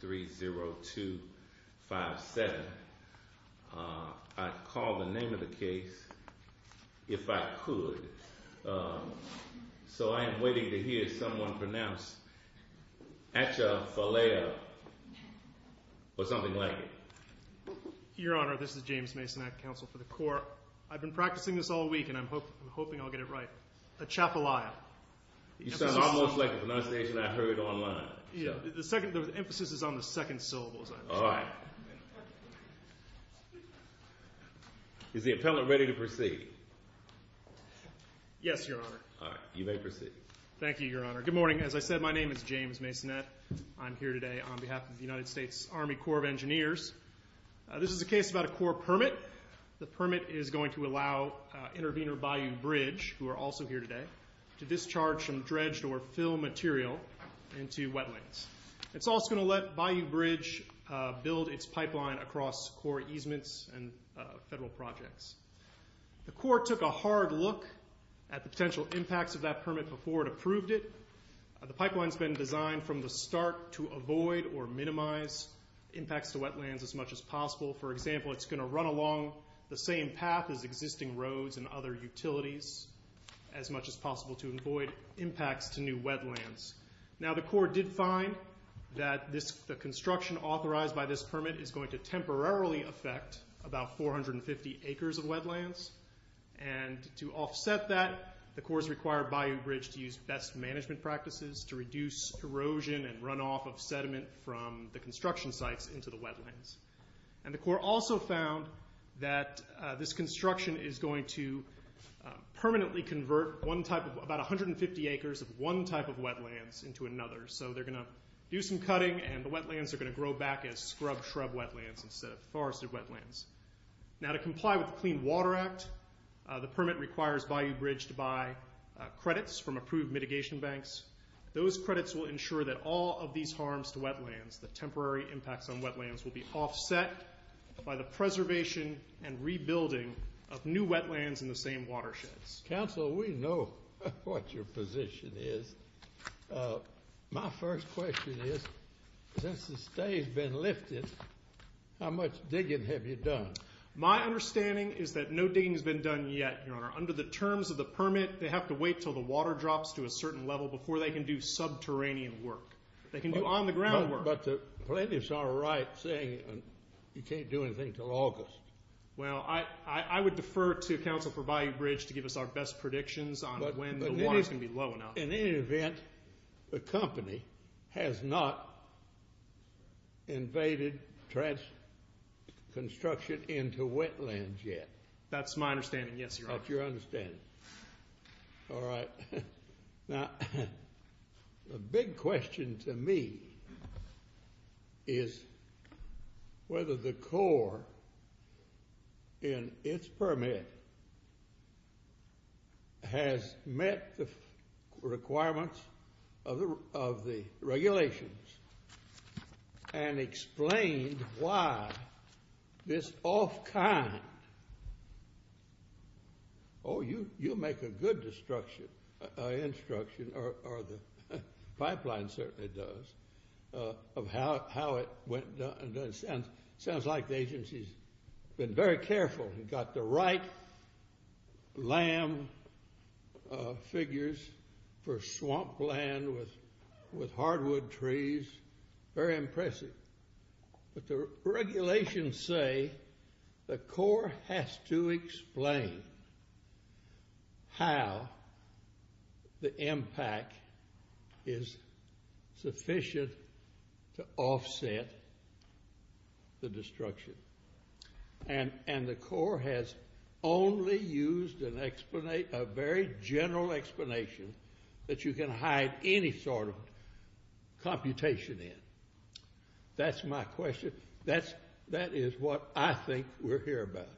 30257. I'd call the name of the case if I could. So I am waiting to hear someone pronounce Atchafalaya or something like it. Your Honor, this is James Mason Act Counsel for the Corps. I've been practicing this all week and I'm hoping I'll get it right. Atchafalaya. You sound almost like a pronunciation I heard online. Yeah, the emphasis is on the second syllable. All right. Is the appellant ready to proceed? Yes, Your Honor. All right, you may proceed. Thank you, Your Honor. Good morning. As I said, my name is James Mason Act. I'm here today on behalf of the United States Army Corps of Engineers. This is a case about a Corps permit. The permit is going to allow Intervenor Bayou Bridge, who are also here today, to discharge some dredged or fill material into wetlands. It's also going to let Bayou Bridge build its pipeline across Corps easements and federal projects. The Corps took a hard look at the potential impacts of that permit before it approved it. The pipeline's been designed from the start to avoid or minimize impacts to wetlands as much as possible. For example, it's much as possible to avoid impacts to new wetlands. Now the Corps did find that the construction authorized by this permit is going to temporarily affect about 450 acres of wetlands. And to offset that, the Corps required Bayou Bridge to use best management practices to reduce erosion and runoff of sediment from the construction sites into the wetlands. And the Corps also found that this construction is going to permanently convert one type of, about 150 acres of one type of wetlands into another. So they're going to do some cutting and the wetlands are going to grow back as scrub shrub wetlands instead of forested wetlands. Now to comply with the Clean Water Act, the permit requires Bayou Bridge to buy credits from approved mitigation banks. Those credits will ensure that all of these harms to wetlands, the temporary impacts on wetlands, will be offset by the preservation and rebuilding of new wetlands in the same watersheds. Council, we know what your position is. My first question is, since the stay's been lifted, how much digging have you done? My understanding is that no digging has been done yet, Your Honor. Under the terms of the permit, they have to wait till the water drops to a certain level before they can do subterranean work. They can do on-the-ground work. But the plaintiff's all right saying you can't do anything till August. Well, I would defer to Council for Bayou Bridge to give us our best predictions on when the water's going to be low enough. In any event, the company has not invaded construction into wetlands yet. All right. Now, a big question to me is whether the Corps, in its permit, has met the Oh, you make a good instruction, or the pipeline certainly does, of how it went. Sounds like the agency's been very careful and got the right lamb figures for swamp land with hardwood trees. Very impressive. But the regulations say the Corps has to explain how the impact is sufficient to offset the destruction. And the Corps has only used a very general explanation that you can hide any sort of computation in. That's my question. That is what I think we're here about.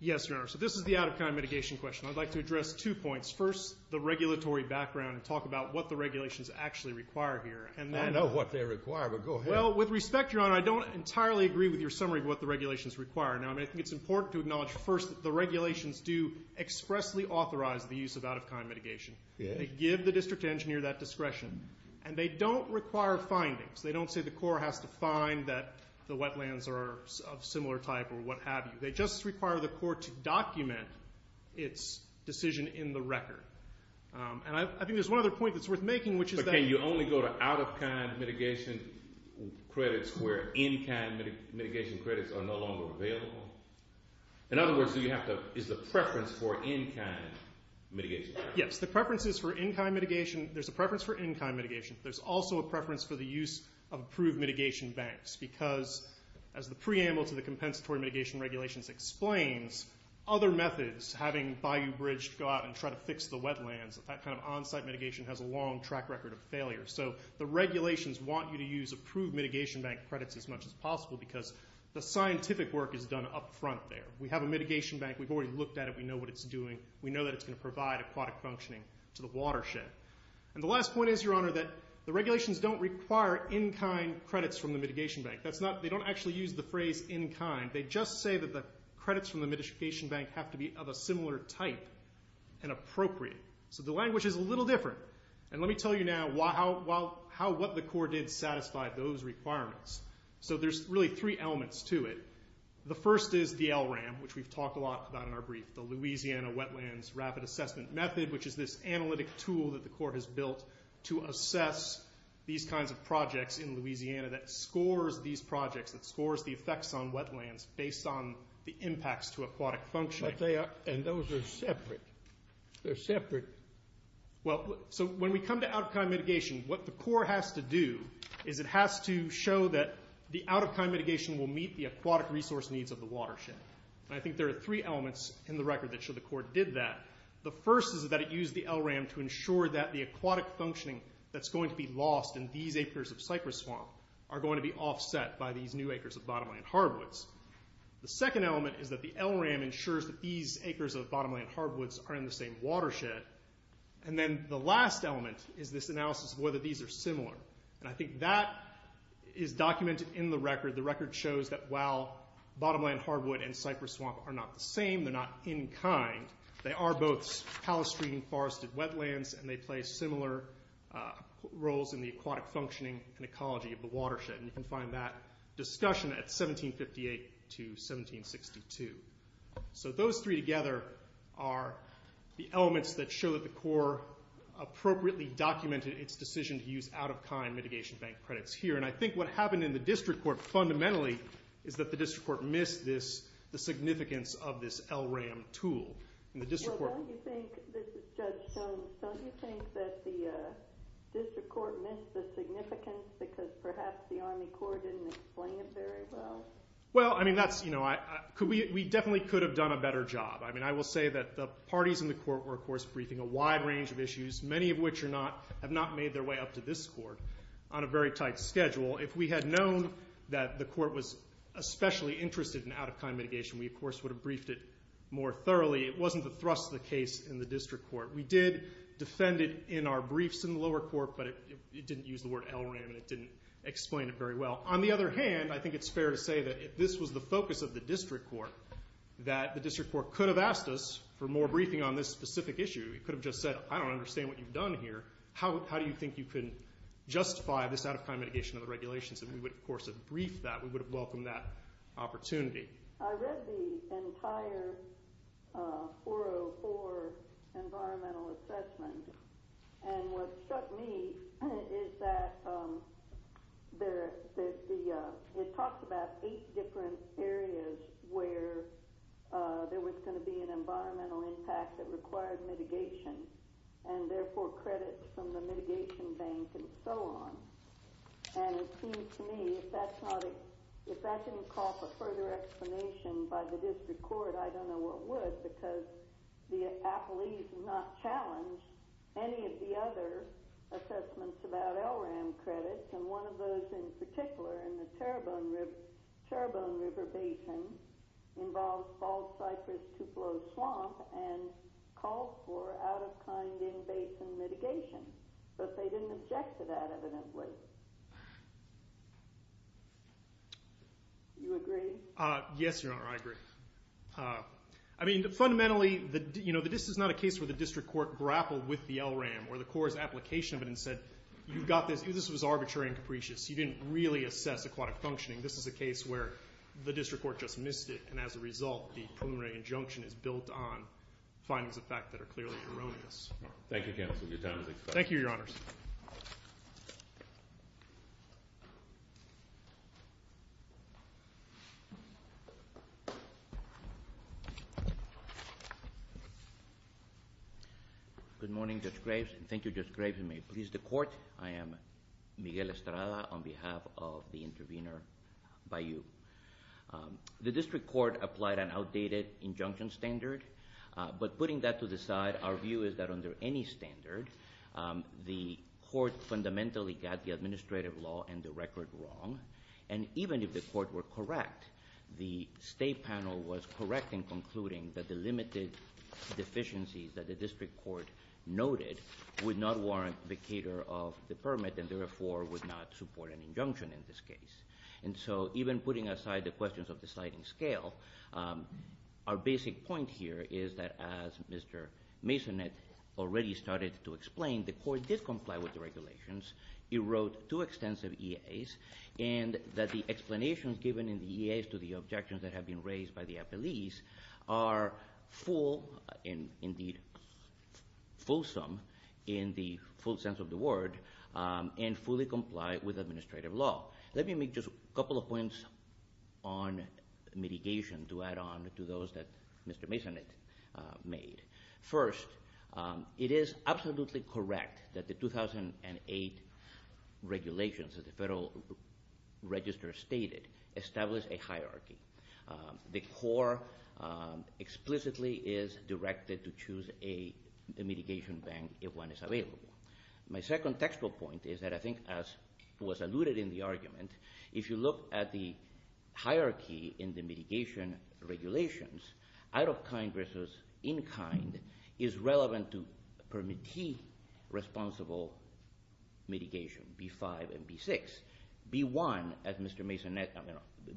Yes, Your Honor. So this is the out-of-kind mitigation question. I'd like to address two points. First, the regulatory background and talk about what the regulations actually require here. I know what they require, but go ahead. Well, with respect, Your Honor, I don't entirely agree with your summary of what the regulations require. Now, I think it's important to acknowledge first that the discretion. And they don't require findings. They don't say the Corps has to find that the wetlands are of similar type or what have you. They just require the Corps to document its decision in the record. And I think there's one other point that's worth making, which is that But can you only go to out-of-kind mitigation credits where in-kind mitigation credits are no longer available? In other words, is the preference for in-kind mitigation credits? Yes. The preference is for in-kind mitigation. There's a preference for in-kind mitigation. There's also a preference for the use of approved mitigation banks, because as the preamble to the compensatory mitigation regulations explains, other methods, having Bayou Bridge go out and try to fix the wetlands, that kind of on-site mitigation has a long track record of failure. So the regulations want you to use approved mitigation bank credits as much as possible because the scientific work is done up front there. We have a mitigation bank. We've already looked at it. We know what it's doing. We know that it's going to provide aquatic functioning to the watershed. And the last point is, Your Honor, that the regulations don't require in-kind credits from the mitigation bank. They don't actually use the phrase in-kind. They just say that the credits from the mitigation bank have to be of a similar type and appropriate. So the language is a little different. And let me tell you now how what the Corps did satisfied those requirements. So there's really three elements to it. The first is the Louisiana Wetlands Rapid Assessment Method, which is this analytic tool that the Corps has built to assess these kinds of projects in Louisiana that scores these projects, that scores the effects on wetlands based on the impacts to aquatic functioning. But they are, and those are separate. They're separate. Well, so when we come to out-of-kind mitigation, what the Corps has to do is it has to show that the out-of-kind mitigation will meet the aquatic resource needs of the watershed. And I think there are three elements in the record that show the Corps did that. The first is that it used the LRAM to ensure that the aquatic functioning that's going to be lost in these acres of cypress swamp are going to be offset by these new acres of bottomland hardwoods. The second element is that the LRAM ensures that these acres of bottomland hardwoods are in the same watershed. And then the last element is this analysis of whether these are similar. And I think that is documented in the record. The record shows that while bottomland hardwood and cypress swamp are not the same, they're not in-kind, they are both palustrine forested wetlands and they play similar roles in the aquatic functioning and ecology of the watershed. And you can find that discussion at 1758 to 1762. So those three together are the elements that show that the Corps appropriately documented its decision to use out-of-kind mitigation bank credits here. And I think what happened in the District Court fundamentally is that the District Court missed the significance of this LRAM tool. And the District Court... Well, don't you think, this is Judge Jones, don't you think that the District Court missed the significance because perhaps the Army Corps didn't explain it very well? Well, I mean, that's, you know, we definitely could have done a better job. I mean, I will say that the parties in the Court were, of course, briefing a wide range of issues, many of which are not, have not made their way up to this schedule. If we had known that the Court was especially interested in out-of-kind mitigation, we, of course, would have briefed it more thoroughly. It wasn't the thrust of the case in the District Court. We did defend it in our briefs in the lower court, but it didn't use the word LRAM and it didn't explain it very well. On the other hand, I think it's fair to say that if this was the focus of the District Court, that the District Court could have asked us for more briefing on this specific issue. It could have just said, I don't understand what you've done here. How do you think you can justify this out-of-kind mitigation of the regulations? And we would, of course, have briefed that. We would have welcomed that opportunity. I read the entire 404 environmental assessment, and what struck me is that it talks about eight different areas where there was going to be an environmental impact that required mitigation, and therefore credits from the mitigation bank and so on. And it seems to me, if that didn't call for further explanation by the District Court, I don't know what would because the appellees have not challenged any of the other assessments about LRAM credits, and one of those in particular in the Terrebonne River Basin involves Bald Cypress Tupelo Swamp and calls for out-of-kind in-basin mitigation. But they didn't object to that, evidently. Do you agree? Yes, Your Honor, I agree. I mean, fundamentally, this is not a case where the District Court grappled with the LRAM or the court's application of it and said, you've got this. This was arbitrary and capricious. You didn't really assess aquatic functioning. This is a case where the District Court just missed it, and as a result, the preliminary injunction is built on findings of fact that are clearly erroneous. Thank you, counsel. Your time has expired. Thank you, Your Honors. Good morning, Judge Graves, and thank you, Judge Graves. And may it please the court, I am Miguel Estrada on behalf of the intervener, Bayou. The District Court applied an outdated injunction standard, but putting that to the side, our standard, the court fundamentally got the administrative law and the record wrong, and even if the court were correct, the State panel was correct in concluding that the limited deficiencies that the District Court noted would not warrant the cater of the permit and, therefore, would not support an injunction in this case. And so even putting aside the questions of the sliding scale, our basic point here is that as Mr. Mason had already started to explain, the court did comply with the regulations. It wrote two extensive EAs, and that the explanations given in the EAs to the objections that have been raised by the appellees are full and, indeed, fulsome in the full sense of the word, and fully comply with administrative law. Let me make just a couple of points on mitigation to add on to those that Mr. Mason made. First, it is absolutely correct that the 2008 regulations that the Federal Register stated established a hierarchy. The court explicitly is directed to choose a mitigation ban if one is available. My second textual point is that I think as was alluded in the argument, if you look at the hierarchy in the mitigation regulations, out-of-kind versus in-kind is relevant to permittee responsible mitigation, B-5 and B-6. B-1, as Mr. Mason,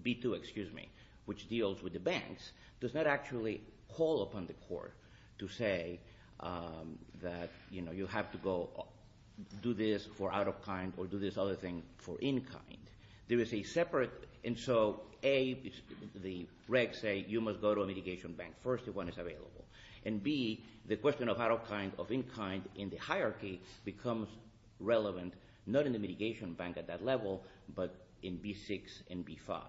B-2, excuse me, which deals with the banks, does not actually call upon the court to say that you have to go do this for out-of-kind or do this other thing for in-kind. There is a separate, and so A, the regs say you must go to a mitigation bank first if one is available, and B, the question of out-of-kind, of in-kind in the hierarchy becomes relevant not in the mitigation bank at that level, but in B-6 and B-5.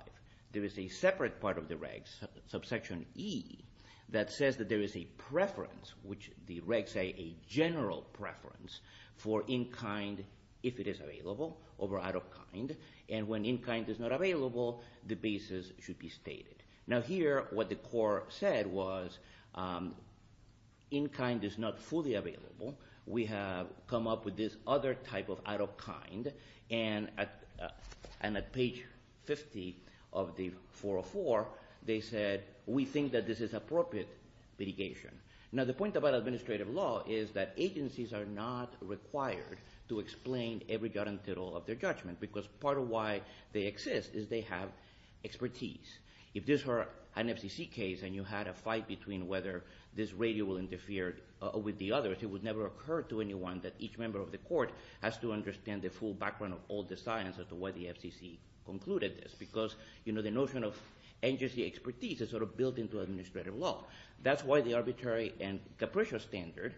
There is a separate part of the regs, subsection E, that says that there is a general preference for in-kind, if it is available, over out-of-kind, and when in-kind is not available, the basis should be stated. Now here, what the court said was in-kind is not fully available. We have come up with this other type of out-of-kind, and at page 50 of the 404, they said we think that this is that agencies are not required to explain every dot and tittle of their judgment, because part of why they exist is they have expertise. If this were an FCC case and you had a fight between whether this radio will interfere with the others, it would never occur to anyone that each member of the court has to understand the full background of all the science of the way the FCC concluded this, because the notion of agency expertise is sort of built into administrative law. That's why the arbitrary and capricious standard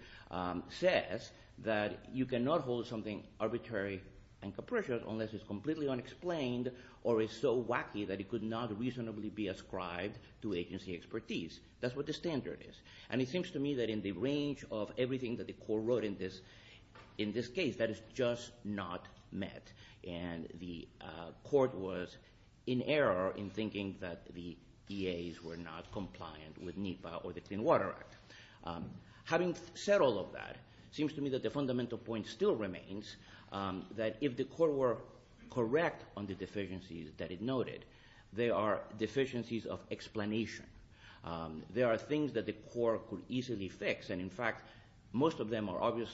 says that you cannot hold something arbitrary and capricious unless it's completely unexplained or is so wacky that it could not reasonably be ascribed to agency expertise. That's what the standard is, and it seems to me that in the range of everything that the court wrote in this case, that is just not met, and the court was in error in thinking that the EAs were not compliant with NEPA or the Clean Water Act. Having said all of that, it seems to me that the fundamental point still remains that if the court were correct on the deficiencies that it noted, they are deficiencies of explanation. There are things that the court could easily fix, and in fact, most of them are obvious.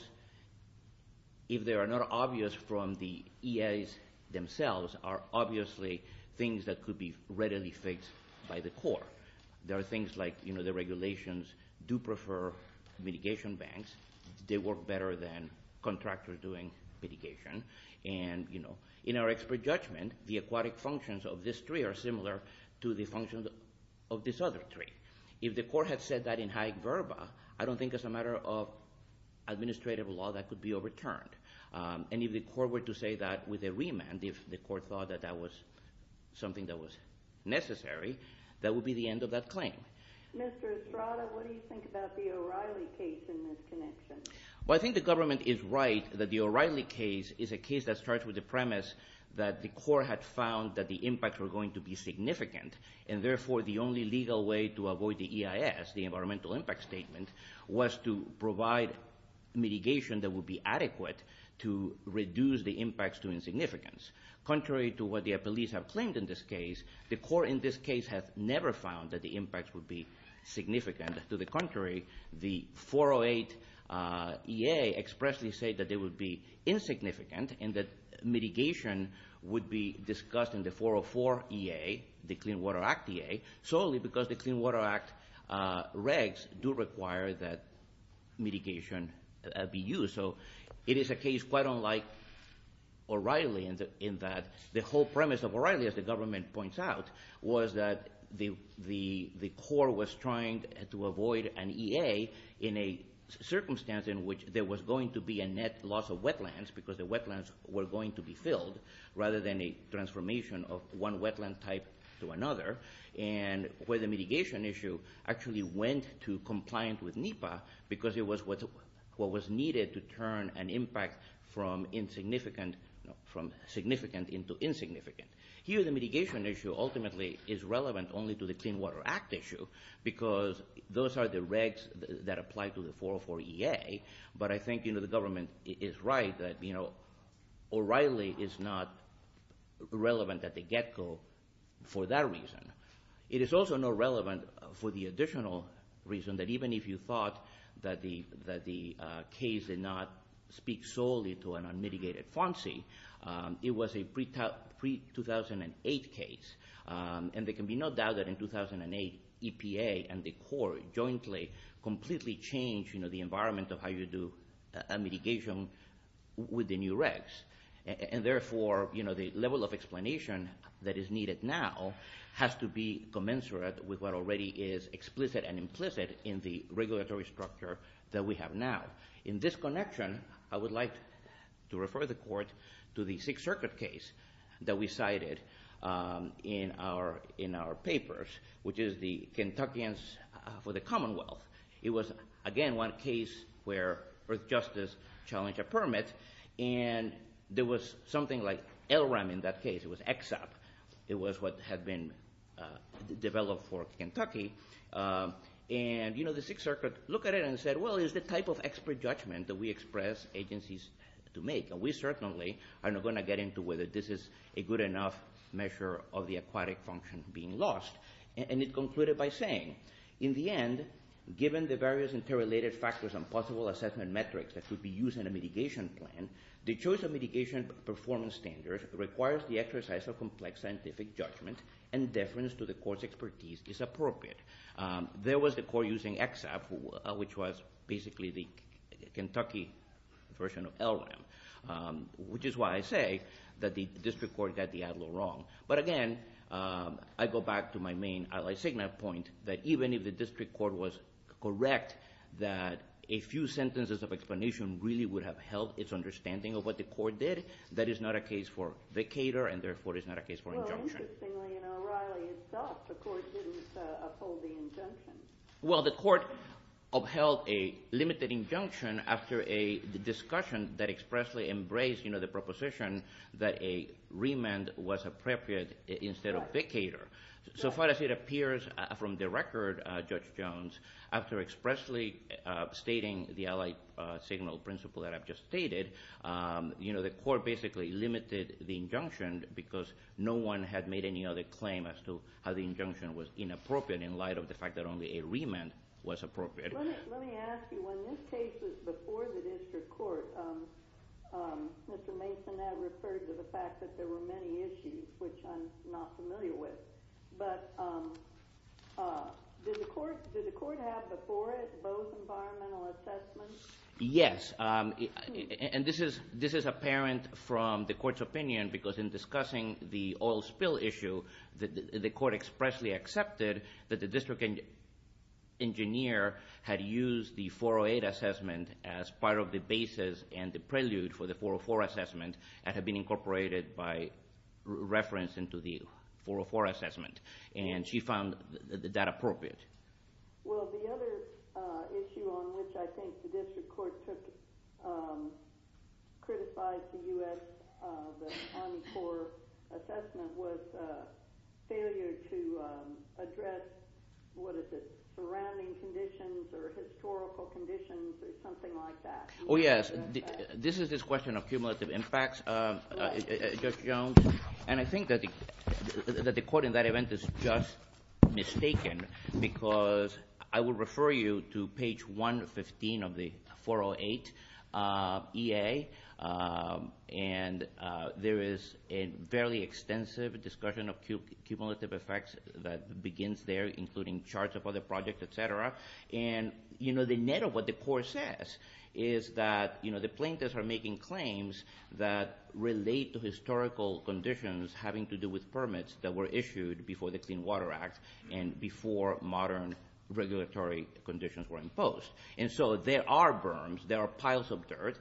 If they are not obvious from the EAs themselves, are obviously things that could be readily fixed by the court. There are things like the regulations do prefer mitigation banks. They work better than contractors doing mitigation, and in our expert judgment, the aquatic functions of this tree are similar to the functions of this other tree. If the court had said that in high verba, I don't think as a matter of claimant, if the court thought that that was something that was necessary, that would be the end of that claim. Mr. Estrada, what do you think about the O'Reilly case in this connection? Well, I think the government is right that the O'Reilly case is a case that starts with the premise that the court had found that the impacts were going to be significant, and therefore, the only legal way to avoid the EIS, the environmental impact statement, was to provide mitigation that would be significant. Contrary to what the appellees have claimed in this case, the court in this case has never found that the impacts would be significant. To the contrary, the 408 EA expressly said that they would be insignificant and that mitigation would be discussed in the 404 EA, the Clean Water Act EA, solely because the Clean Water Act regs do require that mitigation be used. So it is a case quite unlike O'Reilly in that the whole premise of O'Reilly, as the government points out, was that the court was trying to avoid an EA in a circumstance in which there was going to be a net loss of wetlands, because the wetlands were going to be filled, rather than a transformation of one wetland type to another, and where the mitigation issue actually went to turn an impact from significant into insignificant. Here, the mitigation issue ultimately is relevant only to the Clean Water Act issue, because those are the regs that apply to the 404 EA, but I think the government is right that O'Reilly is not relevant at the get-go for that reason. It is also not relevant for the additional reason that even if you thought that the case did not speak solely to an unmitigated FONSI, it was a pre-2008 case, and there can be no doubt that in 2008 EPA and the court jointly completely changed the environment of how you do mitigation with the new regs, and therefore the level of explanation that is needed now has to be commensurate with what already is explicit and implicit in the regulatory structure that we have now. In this connection, I would like to refer the court to the Sixth Circuit case that we cited in our papers, which is the Kentuckians for the Commonwealth. It was, again, one case where Earthjustice challenged a permit, and there was something like LRAM in that case. It was EXAP. It was what had been developed for Kentucky, and the Sixth Circuit looked at it and said, well, it's the type of expert judgment that we express agencies to make, and we certainly are not going to get into whether this is a good enough measure of the aquatic function being lost, and it concluded by saying, in the end, given the various interrelated factors and possible assessment metrics that could be used in a mitigation plan, the choice of mitigation performance standards requires the exercise of complex scientific judgment and deference to the court's expertise is appropriate. There was the court using EXAP, which was basically the Kentucky version of LRAM, which is why I say that the district court got the ad lib wrong. But again, I go back to my main ally signal point, that even if the district court was correct, that a few sentences of explanation really would have helped its understanding of what the court did. That is not a case for vicator, and therefore is not a case for injunction. Well, interestingly, in O'Reilly itself, the court didn't uphold the injunction. Well, the court upheld a limited injunction after a discussion that expressly embraced the proposition that a remand was appropriate instead of vicator. So far as it appears from the record, Judge Jones, after expressly stating the allied signal principle that I've just stated, the court basically limited the injunction because no one had made any other claim as to how the injunction was inappropriate in light of the fact that only a remand was appropriate. Let me ask you, when this case was before the district court, Mr. Mason, that referred to the fact that there were many issues, which I'm not familiar with. But did the court have before it both environmental assessments? Yes. And this is apparent from the court's opinion, because in discussing the oil spill issue, the court expressly accepted that the district engineer had used the 408 assessment as part of the basis and the prelude for the 404 assessment that had been incorporated by reference into the 404 assessment. And she found that appropriate. Well, the other issue on which I think the district court took criticized the Army Corps assessment was failure to address surrounding conditions or historical conditions or something like that. Oh, yes. This is this question of cumulative impacts. And I think that the court in that event is just mistaken because I will refer you to page 115 of the 408 EA. And there is a fairly extensive discussion of cumulative effects that begins there, including charts of other projects, et cetera. And the net of what the court says is that the plaintiffs are making claims that relate to historical conditions having to do with permits that were issued before the Clean Water Act and before modern regulatory conditions were imposed. And so there are berms. There are piles of dirt.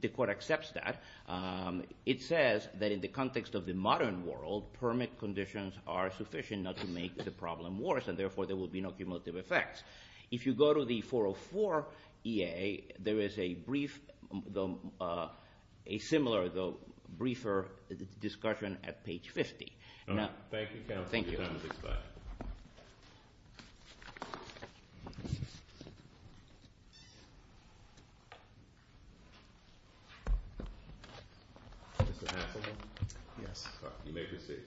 The court accepts that. It says that in the context of the modern world, permit conditions are sufficient not to make the problem worse, and therefore there will be no cumulative effects. If you go to the 404 EA, there is a brief similar, though briefer discussion at page 50. Thank you. Mr. Haslund? Yes. You may proceed.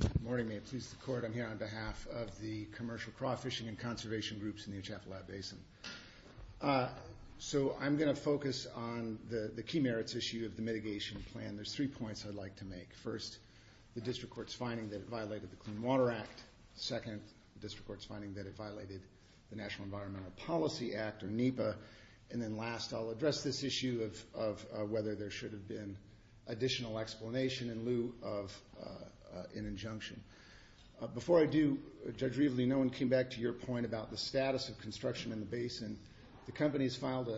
Good morning. May it please the Court. I'm here on behalf of the Commercial Craw Fishing and Conservation Groups in the Uchafla Basin. So I'm going to focus on the key merits issue of the mitigation plan. There's three points I'd like to make. First, the District Court's finding that it violated the Clean Water Act. Second, the District Court's finding that it violated the National Environmental Policy Act, or NEPA. And then last, I'll address this issue of whether there should have been additional explanation in lieu of an injunction. Before I do, Judge Rievele, no one came back to your point about the status of construction in the basin. The company has filed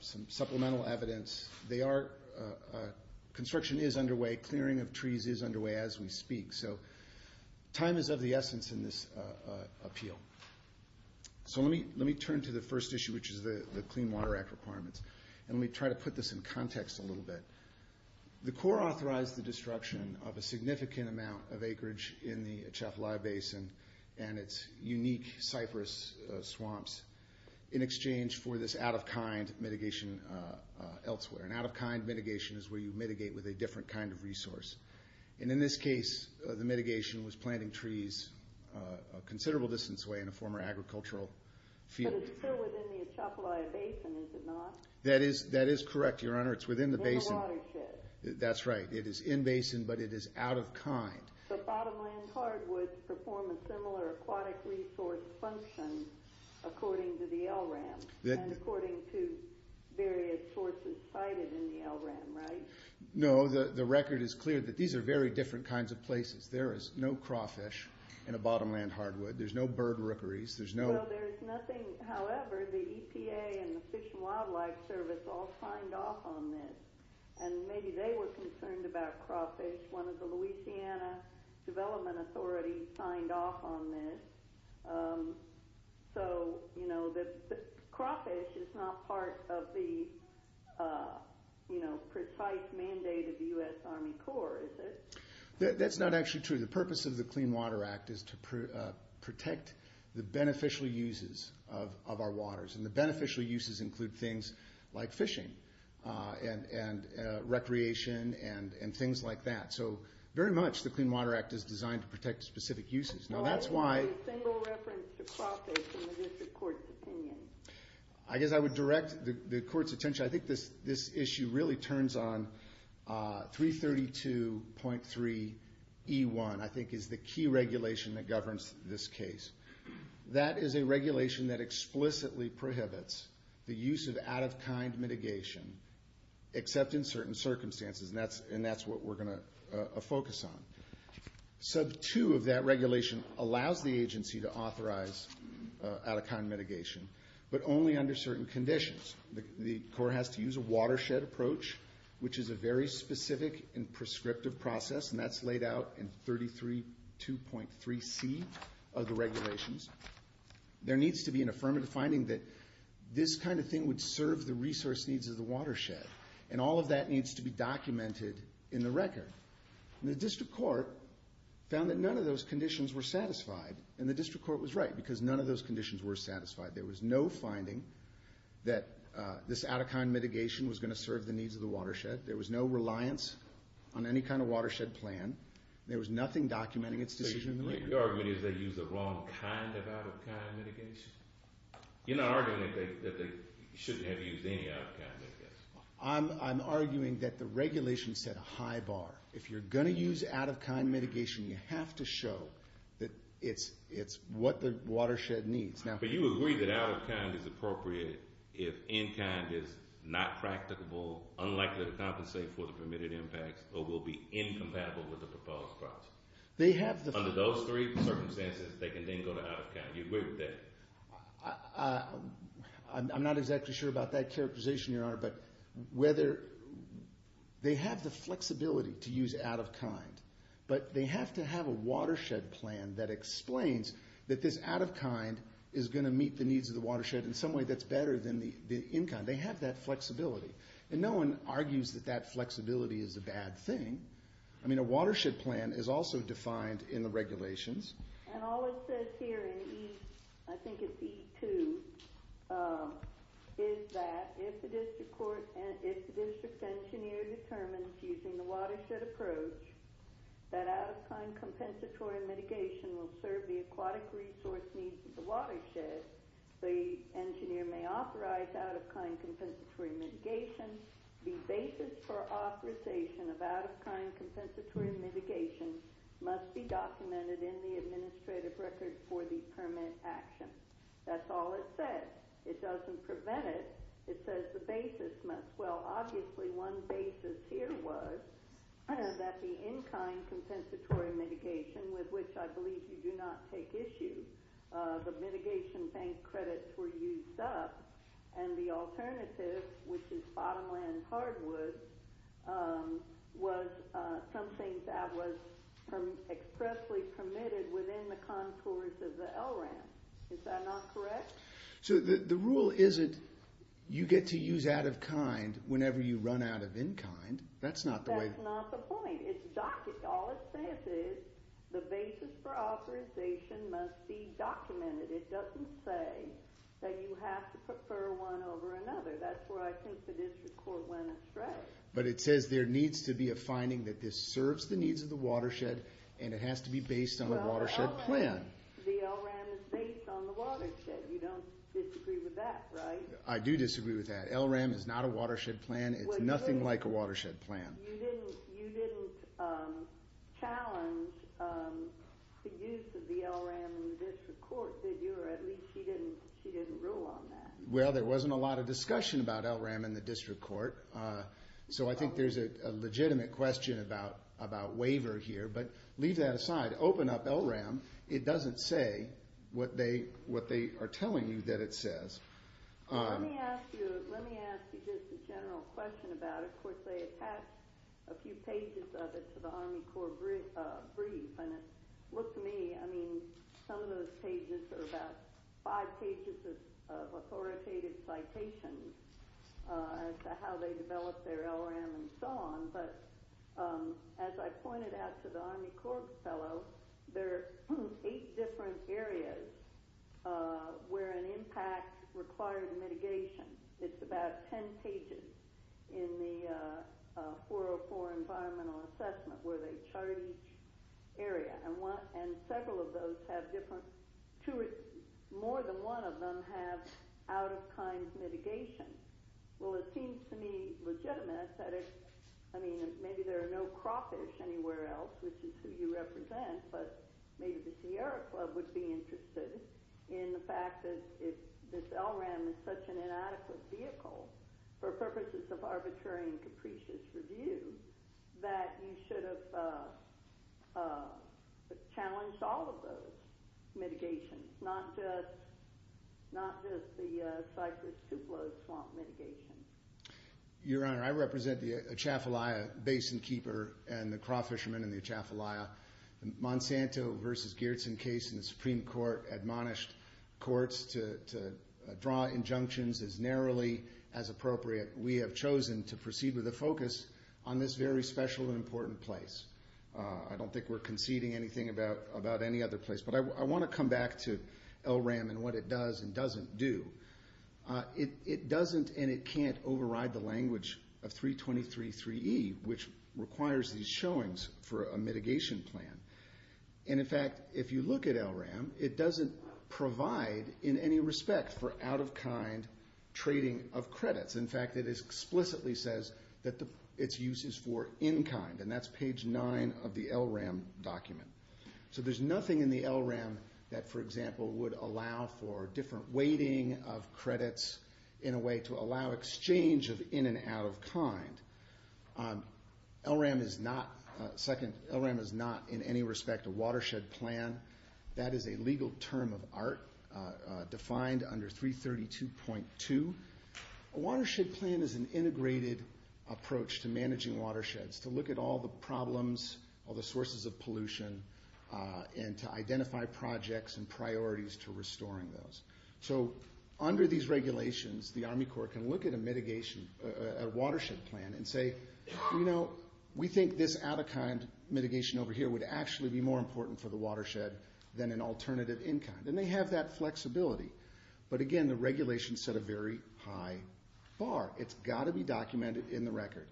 some supplemental evidence. Construction is underway. Clearing of trees is underway as we speak. So time is of the essence in this appeal. So let me turn to the first issue, which is the Clean Water Act requirements. And let me try to put this in context a little bit. The Court authorized the destruction of a significant amount of acreage in the Uchafla Basin and its unique cypress swamps in exchange for this out-of-kind mitigation elsewhere. An out-of-kind mitigation is where you mitigate with a different kind of resource. And in this case, the mitigation was planting trees a considerable distance away in a former agricultural field. But it's still within the Uchafla Basin, is it not? That is correct, Your Honor. It's within the basin. In the watershed. That's right. It is in-basin, but it is out-of-kind. So bottomland hardwoods perform a similar aquatic resource function according to the LRAM and according to various sources cited in the LRAM, right? No. The record is clear that these are very different kinds of places. There is no crawfish in a bottomland hardwood. There's no bird rookeries. Well, there's nothing, however, the EPA and the Fish and Wildlife Service all signed off on this. And maybe they were concerned about crawfish. One of the Louisiana Development Authorities signed off on this. So the crawfish is not part of the precise mandate of the U.S. Army Corps, is it? That's not actually true. The purpose of the Clean Water Act is to protect the beneficial uses of our waters. And the beneficial uses include things like fishing and recreation and things like that. So very much the Clean Water Act is designed to protect specific uses. I guess I would direct the Court's attention, I think this issue really turns on 332.3E1, I think is the key regulation that governs this case. That is a regulation that explicitly prohibits the use of out-of-kind mitigation, except in certain circumstances, and that's what we're going to focus on. Sub 2 of that regulation allows the agency to authorize out-of-kind mitigation, but only under certain conditions. The Corps has to use a watershed approach, which is a very specific and prescriptive process, and that's laid out in 332.3C of the regulations. There needs to be an affirmative finding that this kind of thing would serve the resource needs of the watershed, and all of that needs to be documented in the record. And the District Court found that none of those conditions were satisfied, and the District Court was right, because none of those conditions were satisfied. There was no finding that this out-of-kind mitigation was going to serve the needs of the watershed. There was no reliance on any kind of watershed plan. There was nothing documenting its decision in the record. So your argument is they used the wrong kind of out-of-kind mitigation? You're not arguing that they shouldn't have used any out-of-kind, I guess. I'm arguing that the regulation set a high bar. If you're going to use out-of-kind mitigation, you have to show that it's what the watershed needs. But you agree that out-of-kind is appropriate if in-kind is not practicable, unlikely to compensate for the permitted impacts, or will be incompatible with the proposed process. Under those three circumstances, they can then go to out-of-kind. You agree with that? I'm not exactly sure about that characterization, Your Honor, but they have the flexibility to use out-of-kind, but they have to have a watershed plan that explains that this out-of-kind is going to meet the needs of the watershed in some way that's better than the in-kind. They have that flexibility. And no one argues that that flexibility is a bad thing. I mean, a watershed plan is also defined in the regulations. And all it says here in E, I think it's E2, is that if the district engineer determines using the watershed approach that out-of-kind compensatory mitigation will serve the aquatic resource needs of the watershed, the engineer may authorize out-of-kind compensatory mitigation, the basis for authorization of out-of-kind compensatory mitigation must be documented in the administrative record for the permit action. That's all it says. It doesn't prevent it. It says the basis must. Well, obviously one basis here was that the in-kind compensatory mitigation, with which I believe you do not take issue, the mitigation bank credits were used up, and the alternative, which is bottomland hardwood, was something that was expressly permitted within the contours of the L ramp. Is that not correct? So the rule isn't you get to use out-of-kind whenever you run out of in-kind. That's not the way. That's not the point. All it says is the basis for authorization must be documented. It doesn't say that you have to prefer one over another. That's where I think the district court went astray. But it says there needs to be a finding that this serves the needs of the watershed, and it has to be based on the watershed plan. The L ramp is based on the watershed. You don't disagree with that, right? I do disagree with that. L ramp is not a watershed plan. It's nothing like a watershed plan. You didn't challenge the use of the L ramp in the district court, did you? Or at least she didn't rule on that. Well, there wasn't a lot of discussion about L ramp in the district court, so I think there's a legitimate question about waiver here, but leave that aside. Open up L ramp. It doesn't say what they are telling you that it says. Let me ask you just a general question about it. Of course, they attached a few pages of it to the Army Corps brief, and it looked to me, I mean, some of those pages are about five pages of authoritative citations as to how they developed their L ramp and so on, but as I pointed out to the Army Corps fellow, there are eight different areas where an impact required mitigation. It's about 10 pages in the 404 environmental assessment where they chart each area, and several of those have different, more than one of them have out of kind mitigation. Well, it seems to me legitimate that it's, I mean, maybe there are no crawfish anywhere else, which is who you represent, but maybe the Sierra Club would be interested in the fact that if this L ramp is such an inadequate vehicle for purposes of arbitrary and capricious review, that you should have challenged all of those mitigations, not just the Cypress Tupelo swamp mitigation. Your Honor, I represent the Atchafalaya Basin Keeper and the crawfishermen in the Atchafalaya. The Monsanto versus Geertsen case in the Supreme Court admonished courts to draw injunctions as narrowly as one place. I don't think we're conceding anything about any other place, but I want to come back to L ramp and what it does and doesn't do. It doesn't and it can't override the language of 323-3E, which requires these showings for a mitigation plan. And in fact, if you look at L ramp, it doesn't provide in any respect for out of kind trading of credits. In fact, it explicitly says that its use is for in kind, and that's page nine of the L ramp document. So there's nothing in the L ramp that, for example, would allow for different weighting of credits in a way to allow exchange of in and out of kind. L ramp is not, second, L ramp is not in any respect a watershed plan. That is a legal term of art defined under 332.2. A watershed plan is an integrated approach to managing watersheds, to look at all the problems, all the sources of pollution, and to identify projects and priorities to restoring those. So under these regulations, the Army Corps can look at a mitigation, a watershed plan and say, you know, we think this out of kind and they have that flexibility. But again, the regulations set a very high bar. It's got to be documented in the record.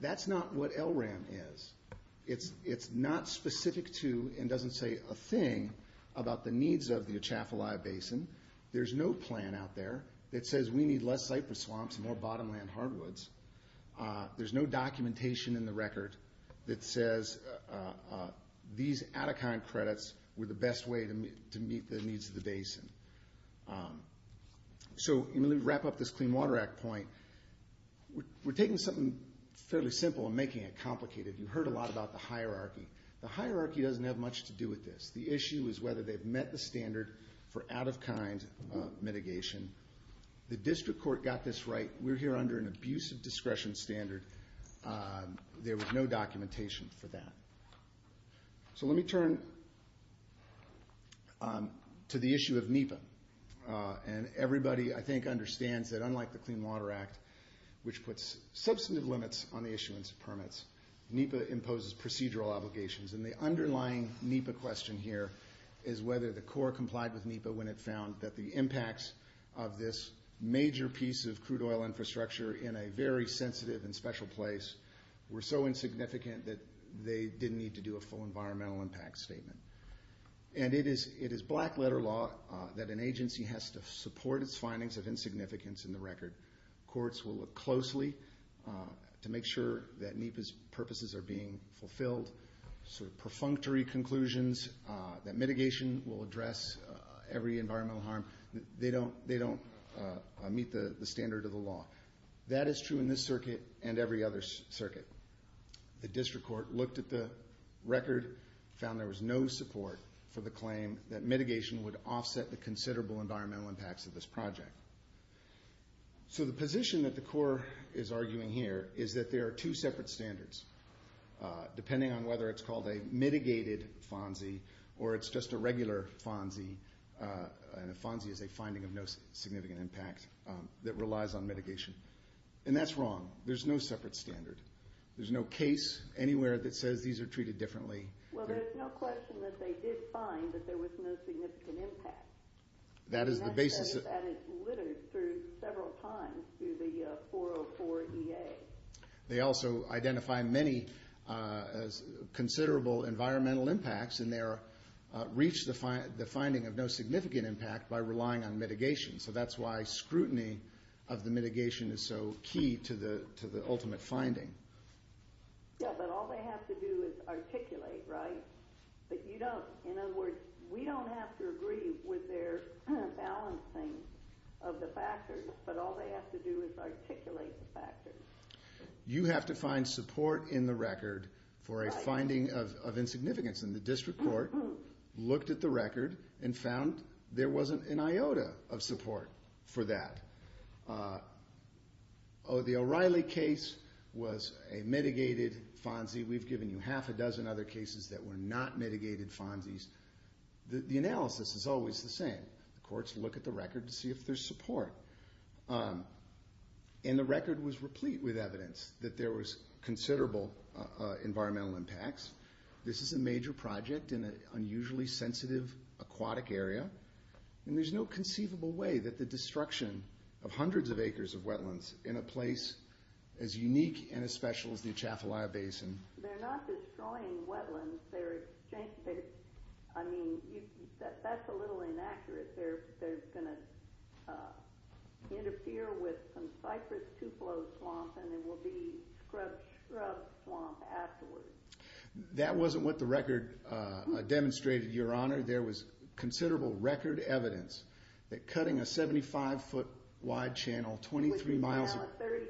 That's not what L ramp is. It's not specific to, and doesn't say a thing about the needs of the Atchafalaya Basin. There's no plan out there that says we need less cypress swamps and more bottom land hardwoods. There's no documentation in the record that says these out of kind credits were the best way to meet the needs of the basin. So let me wrap up this Clean Water Act point. We're taking something fairly simple and making it complicated. You've heard a lot about the hierarchy. The hierarchy doesn't have much to do with this. The issue is whether they've met the standard for out of kind mitigation. The district court got this right. We're here under an abusive discretion standard. There was no documentation for that. So let me turn to the issue of NEPA. And everybody, I think, understands that unlike the Clean Water Act, which puts substantive limits on the issuance of permits, NEPA imposes procedural obligations. And the underlying NEPA question here is whether the Corps complied with NEPA when it found that the impacts of this major piece of crude oil infrastructure in a very sensitive and special place were so insignificant that they didn't need to do a full environmental impact statement. And it is black letter law that an agency has to support its findings of insignificance in the record. Courts will look closely to make sure that NEPA's purposes are being fulfilled. Sort of perfunctory conclusions that mitigation will address every environmental harm, they don't meet the standard of the law. That is true in this circuit and every other circuit. The district court looked at the record, found there was no support for the claim that mitigation would offset the considerable environmental impacts of this project. So the position that the NEPA is on, whether it's called a mitigated FONSI or it's just a regular FONSI, and a FONSI is a finding of no significant impact that relies on mitigation. And that's wrong. There's no separate standard. There's no case anywhere that says these are treated differently. Well, there's no question that they did find that there was no significant impact. That is the basis. And that says that it littered through several times through the 404 EA. They also identify many considerable environmental impacts and they reached the finding of no significant impact by relying on mitigation. So that's why scrutiny of the mitigation is so key to the ultimate finding. Yeah, but all they have to do is articulate, right? But you don't, in other words, we don't have to agree with their balancing of the factors, but all they have to do is articulate the factors. You have to find support in the record for a finding of insignificance. And the district court looked at the record and found there wasn't an IOTA of support for that. The O'Reilly case was a mitigated FONSI. We've given you half a dozen other cases that were not mitigated FONSIs. The analysis is always the same. The courts look at the record to see if there's support. And the record was replete with evidence that there was considerable environmental impacts. This is a major project in an unusually sensitive aquatic area. And there's no conceivable way that the destruction of hundreds of acres of wetlands in a place as big as this is going to be. I mean, that's a little inaccurate. They're going to interfere with some cypress tupelo swamps and there will be scrub swamp afterwards. That wasn't what the record demonstrated, Your Honor. There was considerable record evidence that cutting a 75 foot wide channel 23 miles... Now it's a 30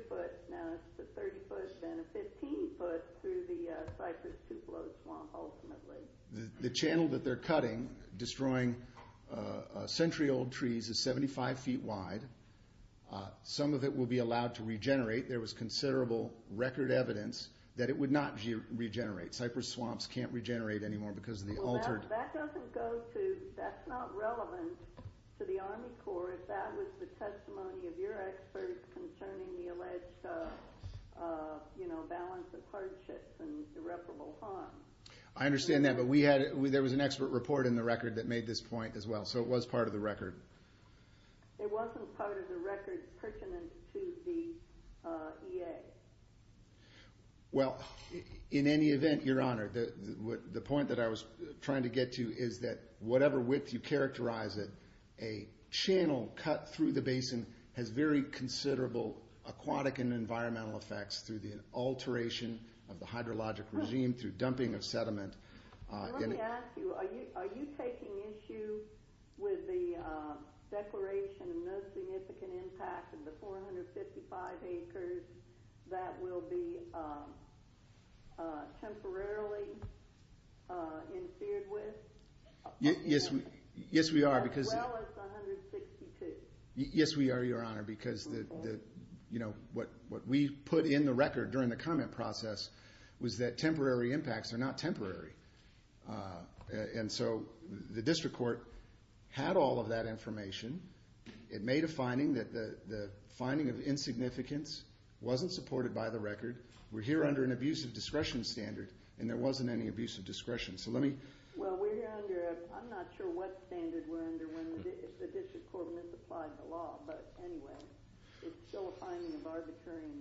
foot, then a 15 foot through the cypress tupelo swamp ultimately. The channel that they're cutting, destroying century old trees is 75 feet wide. Some of it will be allowed to regenerate. There was considerable record evidence that it would not regenerate. Cypress swamps can't regenerate anymore because of the altered... Now that doesn't go to, that's not relevant to the Army Corps if that was the testimony of your experts concerning the alleged balance of hardships and irreparable harm. I understand that, but we had, there was an expert report in the record that made this point as well. So it was part of the record. It wasn't part of the record pertinent to the EA. Well, in any event, Your Honor, the point that I was trying to get to is that whatever width you characterize it, a channel cut through the basin has very considerable aquatic and environmental effects through the alteration of the hydrologic regime, through dumping of sediment. Let me ask you, are you taking issue with the declaration of no significant impact in the 455 acres that will be temporarily interfered with? Yes, we are. As well as 162. Yes, we are, Your Honor, because what we put in the record during the comment process was that temporary impacts are not temporary. And so the district court had all of that information. It made a finding that the finding of insignificance wasn't supported by the record. We're here under an abusive discretion standard, and there wasn't any abusive discretion. Well, we're here under, I'm not sure what standard we're under when the district court misapplied the law, but anyway, it's still a finding of arbitrary and we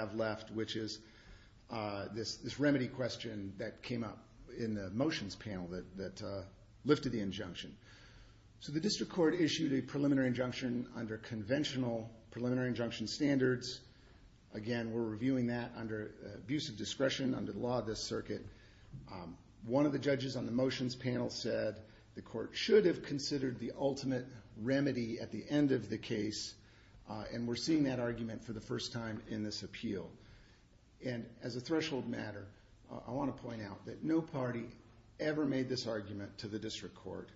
have left, which is this remedy question that came up in the motions panel that lifted the injunction. So the district court issued a preliminary injunction under conventional preliminary injunction standards. Again, we're reviewing that under abusive discretion under the law of this circuit. One of the judges on the motions panel said the court should have considered the ultimate remedy at the end of the case, and we're seeing that argument for the first time in this appeal. And as a threshold matter, I want to point out that no party ever made this argument to the district court.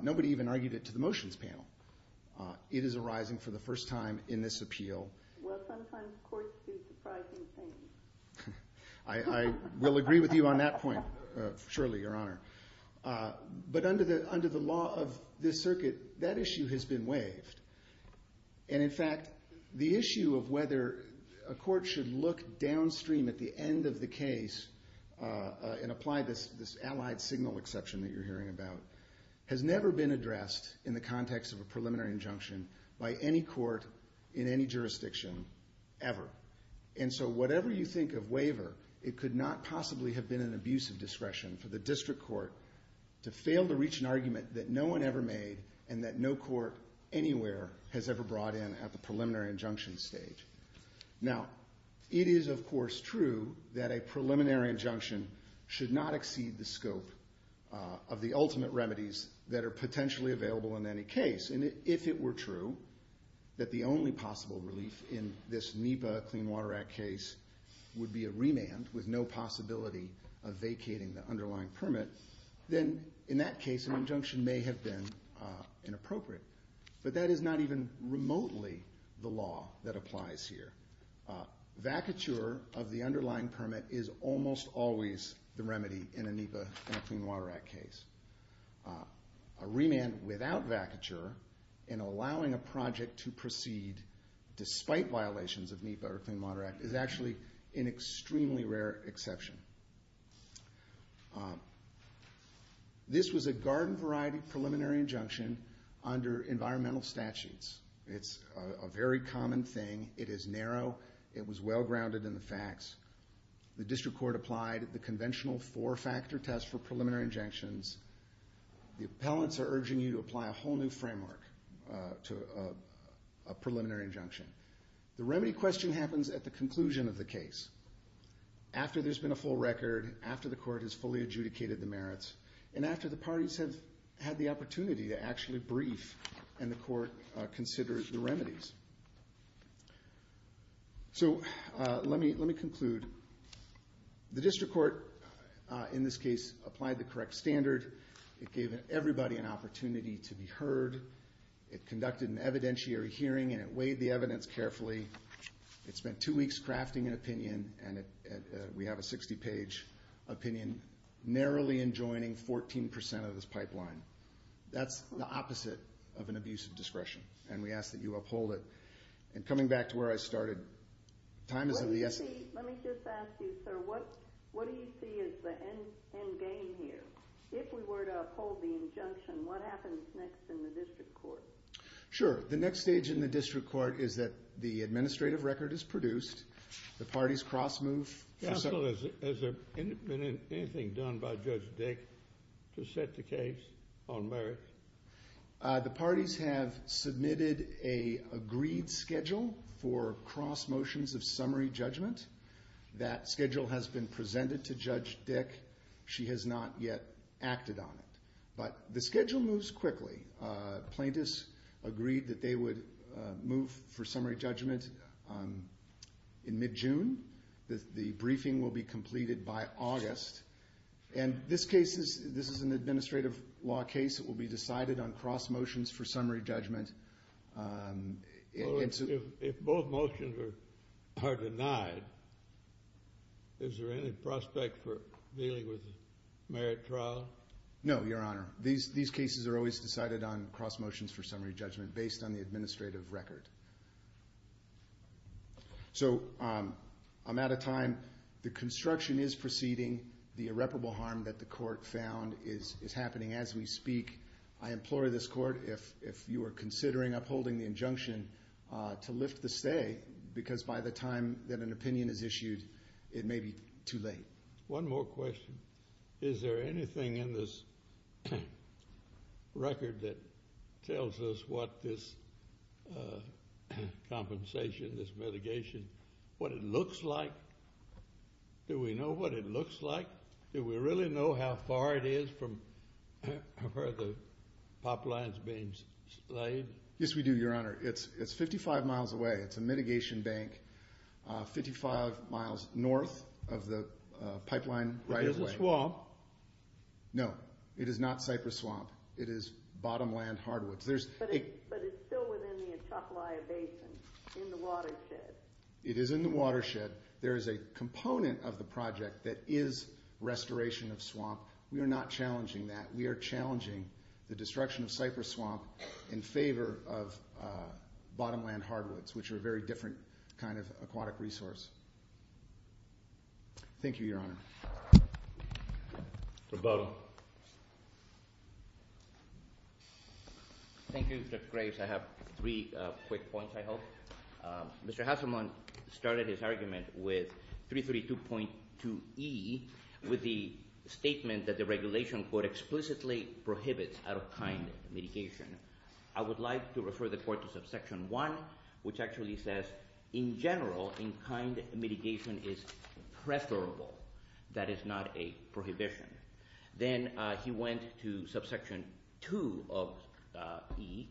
Nobody even argued it to the motions panel. It is arising for the first time in this appeal. Well, sometimes courts do surprising things. I will agree with you on that point, Shirley, Your Honor. But under the law of this circuit, that issue has been waived. And in fact, the issue of whether a court should look downstream at the end of the case and apply this allied signal exception that you're hearing about has never been addressed in the context of a preliminary injunction by any court in any jurisdiction ever. And so whatever you think of waiver, it could not possibly have been an abusive discretion for the district court to fail to reach an argument that no one ever made and that no court anywhere has ever brought in at the preliminary injunction stage. Now, it is, of course, true that a preliminary injunction should not exceed the scope of the ultimate remedies that are potentially available in any case. And if it were true that the only possible relief in this NEPA Clean Water Act case would be a remand with no possibility of vacating the underlying permit, then in that case an injunction may have been inappropriate. But that is not even remotely the law that applies here. Vacature of the underlying permit is almost always the remedy in a NEPA Clean Water Act case. A remand without vacature and allowing a project to proceed despite violations of NEPA or Clean Water Act is actually an extremely rare exception. This was a garden variety preliminary injunction under environmental statutes. It's a very common thing. It is narrow. It was well grounded in the facts. The district court applied the conventional four-factor test for preliminary injunctions. The appellants are urging you to apply a whole new framework to a preliminary injunction. The remedy question happens at the conclusion of the case, after there's been a full record, after the court has fully adjudicated the merits, and after the parties have had the opportunity to actually brief and the court considers the remedies. The district court in this case applied the correct standard. It gave everybody an opportunity to be heard. It conducted an evidentiary hearing and it weighed the evidence carefully. It spent two weeks crafting an opinion. We have a 60-page opinion narrowly enjoining 14% of this pipeline. That's the opposite of an abuse of discretion, and we ask that you uphold it. Coming back to where I started, time is of the essence. Let me just ask you, sir, what do you see as the end game here? If we were to uphold the injunction, what happens next in the district court? Sure. The next stage in the district court is that the administrative record is produced. The parties cross-move. Has there been anything done by Judge Dick to set the case on merits? The parties have submitted an agreed schedule for cross-motions of summary judgment. That schedule has been presented to Judge Dick. She has not yet acted on it, but the schedule moves quickly. Plaintiffs agreed that they would move for summary judgment in mid-June. The briefing will be completed by August. This is an administrative law case that will be decided on cross-motions for summary judgment. If both motions are denied, is there any prospect for dealing with a merit trial? No, Your Honor. These cases are always decided on cross-motions for summary judgment based on the administrative record. I'm out of time. The construction is proceeding. The irreparable harm that the court found is happening as we speak. I implore this court, if you are considering upholding the injunction, to lift the stay because by the time that an opinion is issued, it may be too late. One more question. Is there anything in this record that tells us what this compensation, this mitigation, what it looks like? Do we know what it looks like? Do we really know how far it is from where the It's 55 miles away. It's a mitigation bank. 55 miles north of the pipeline right of way. No, it is not Cypress Swamp. It is Bottomland Hardwoods. But it's still within the Atchafalaya Basin, in the watershed. It is in the watershed. There is a component of the project that is restoration of swamp. We are not challenging that. We are challenging the destruction of Cypress Swamp in favor of Bottomland Hardwoods, which are a very different kind of aquatic resource. Thank you, Your Honor. Thank you, Judge Graves. I have three quick points, I hope. Mr. Haselman started his argument with 332.2e with the statement that the regulation, quote, explicitly prohibits out-of-kind mitigation. I would like to refer the court to subsection 1, which actually says in general, in-kind mitigation is preferable. That is not a prohibition. Then he went to subsection 2 of e,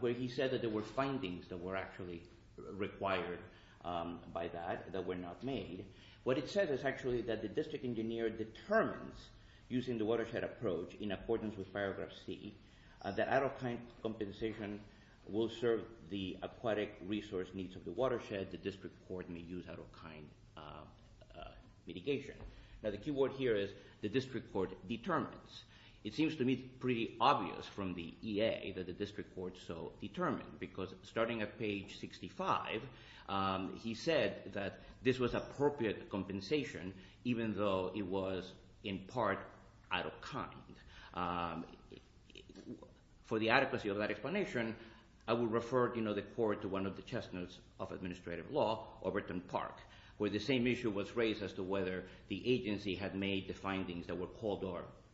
where he said that there were findings that were actually required by that, that were not made. What it says is actually that the district engineer determines, using the watershed approach, in accordance with paragraph c, that out-of-kind compensation will serve the aquatic resource needs of the watershed. The district court may use out-of-kind mitigation. Now, the key word here is the district court determines. It seems to me pretty obvious from the EA that the district court so determined, because starting at page 65, he said that this was appropriate compensation, even though it was in part out-of-kind. For the adequacy of that explanation, I would refer the court to one of the chestnuts of administrative law, Overton Park, where the same issue was raised as to whether the agency had made the findings that were called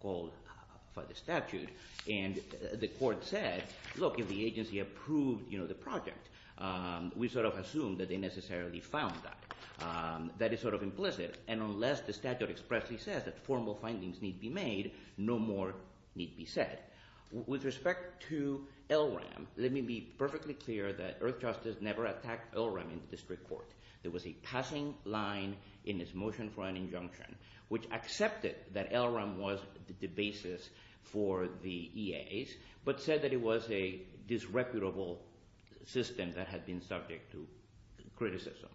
for the statute. The court said, look, if the agency approved the project, we sort of assumed that they necessarily found that. That is sort of implicit, and unless the statute expressly says that formal findings need be made, no more need be said. With respect to LRAM, let me be perfectly clear that Earthjustice never attacked LRAM in the district court. There was a passing line in its motion for an injunction, which accepted that LRAM was the basis for the EAs, but said that it was a disreputable system that had been subject to criticism.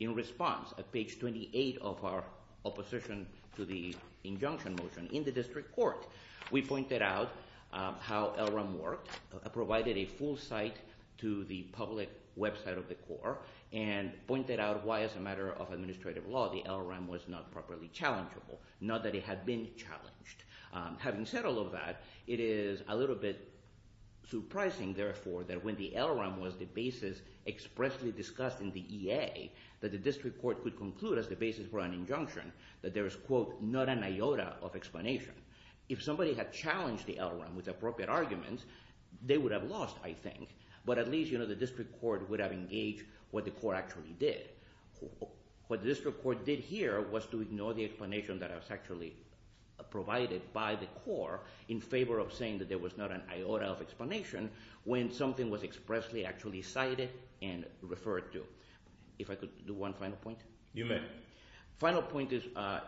In response, at page 28 of our opposition to the injunction motion in the district court, we pointed out how LRAM worked, provided a full site to the public website of the court, and pointed out why, as a matter of administrative law, the LRAM was not properly challengeable, not that it had been challenged. Having said all of that, it is a little bit surprising, therefore, that when the LRAM was the basis expressly discussed in the EA, that the district court could conclude, as the basis for an injunction, that there is quote, not an iota of explanation. If somebody had challenged the LRAM with appropriate arguments, they would have lost, I think, but at least the district court would have engaged what the court actually did. What the district court did here was to ignore the explanation that was actually provided by the court in favor of saying that there was not an iota of explanation when something was expressly actually cited and referred to. If I could do one final point. You may. Final point is to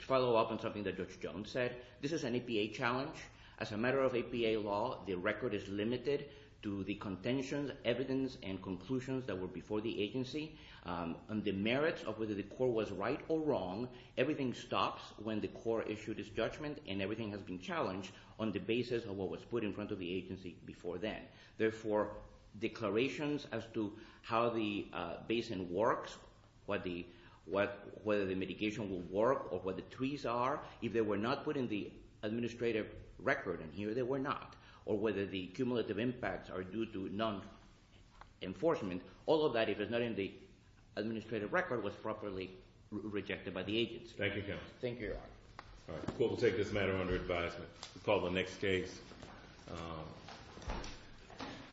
follow up on something that Judge Jones said. This is an APA challenge. As a matter of APA law, the record is limited to the contentions, evidence, and conclusions that were before the agency. On the merits of whether the court was right or wrong, everything stops when the court issued its judgment and everything has been challenged on the basis of what was put in front of the agency before then. Therefore, declarations as to how the basin works, whether the mitigation will work or what the trees are, if they were not put in the administrative record, and here they were not, or whether the cumulative impacts are due to non-enforcement, all of that, if it's not in the administrative record, was properly rejected by the agency. Thank you, counsel. Thank you, Your Honor. The court will take this matter under advisement. We'll call the next case.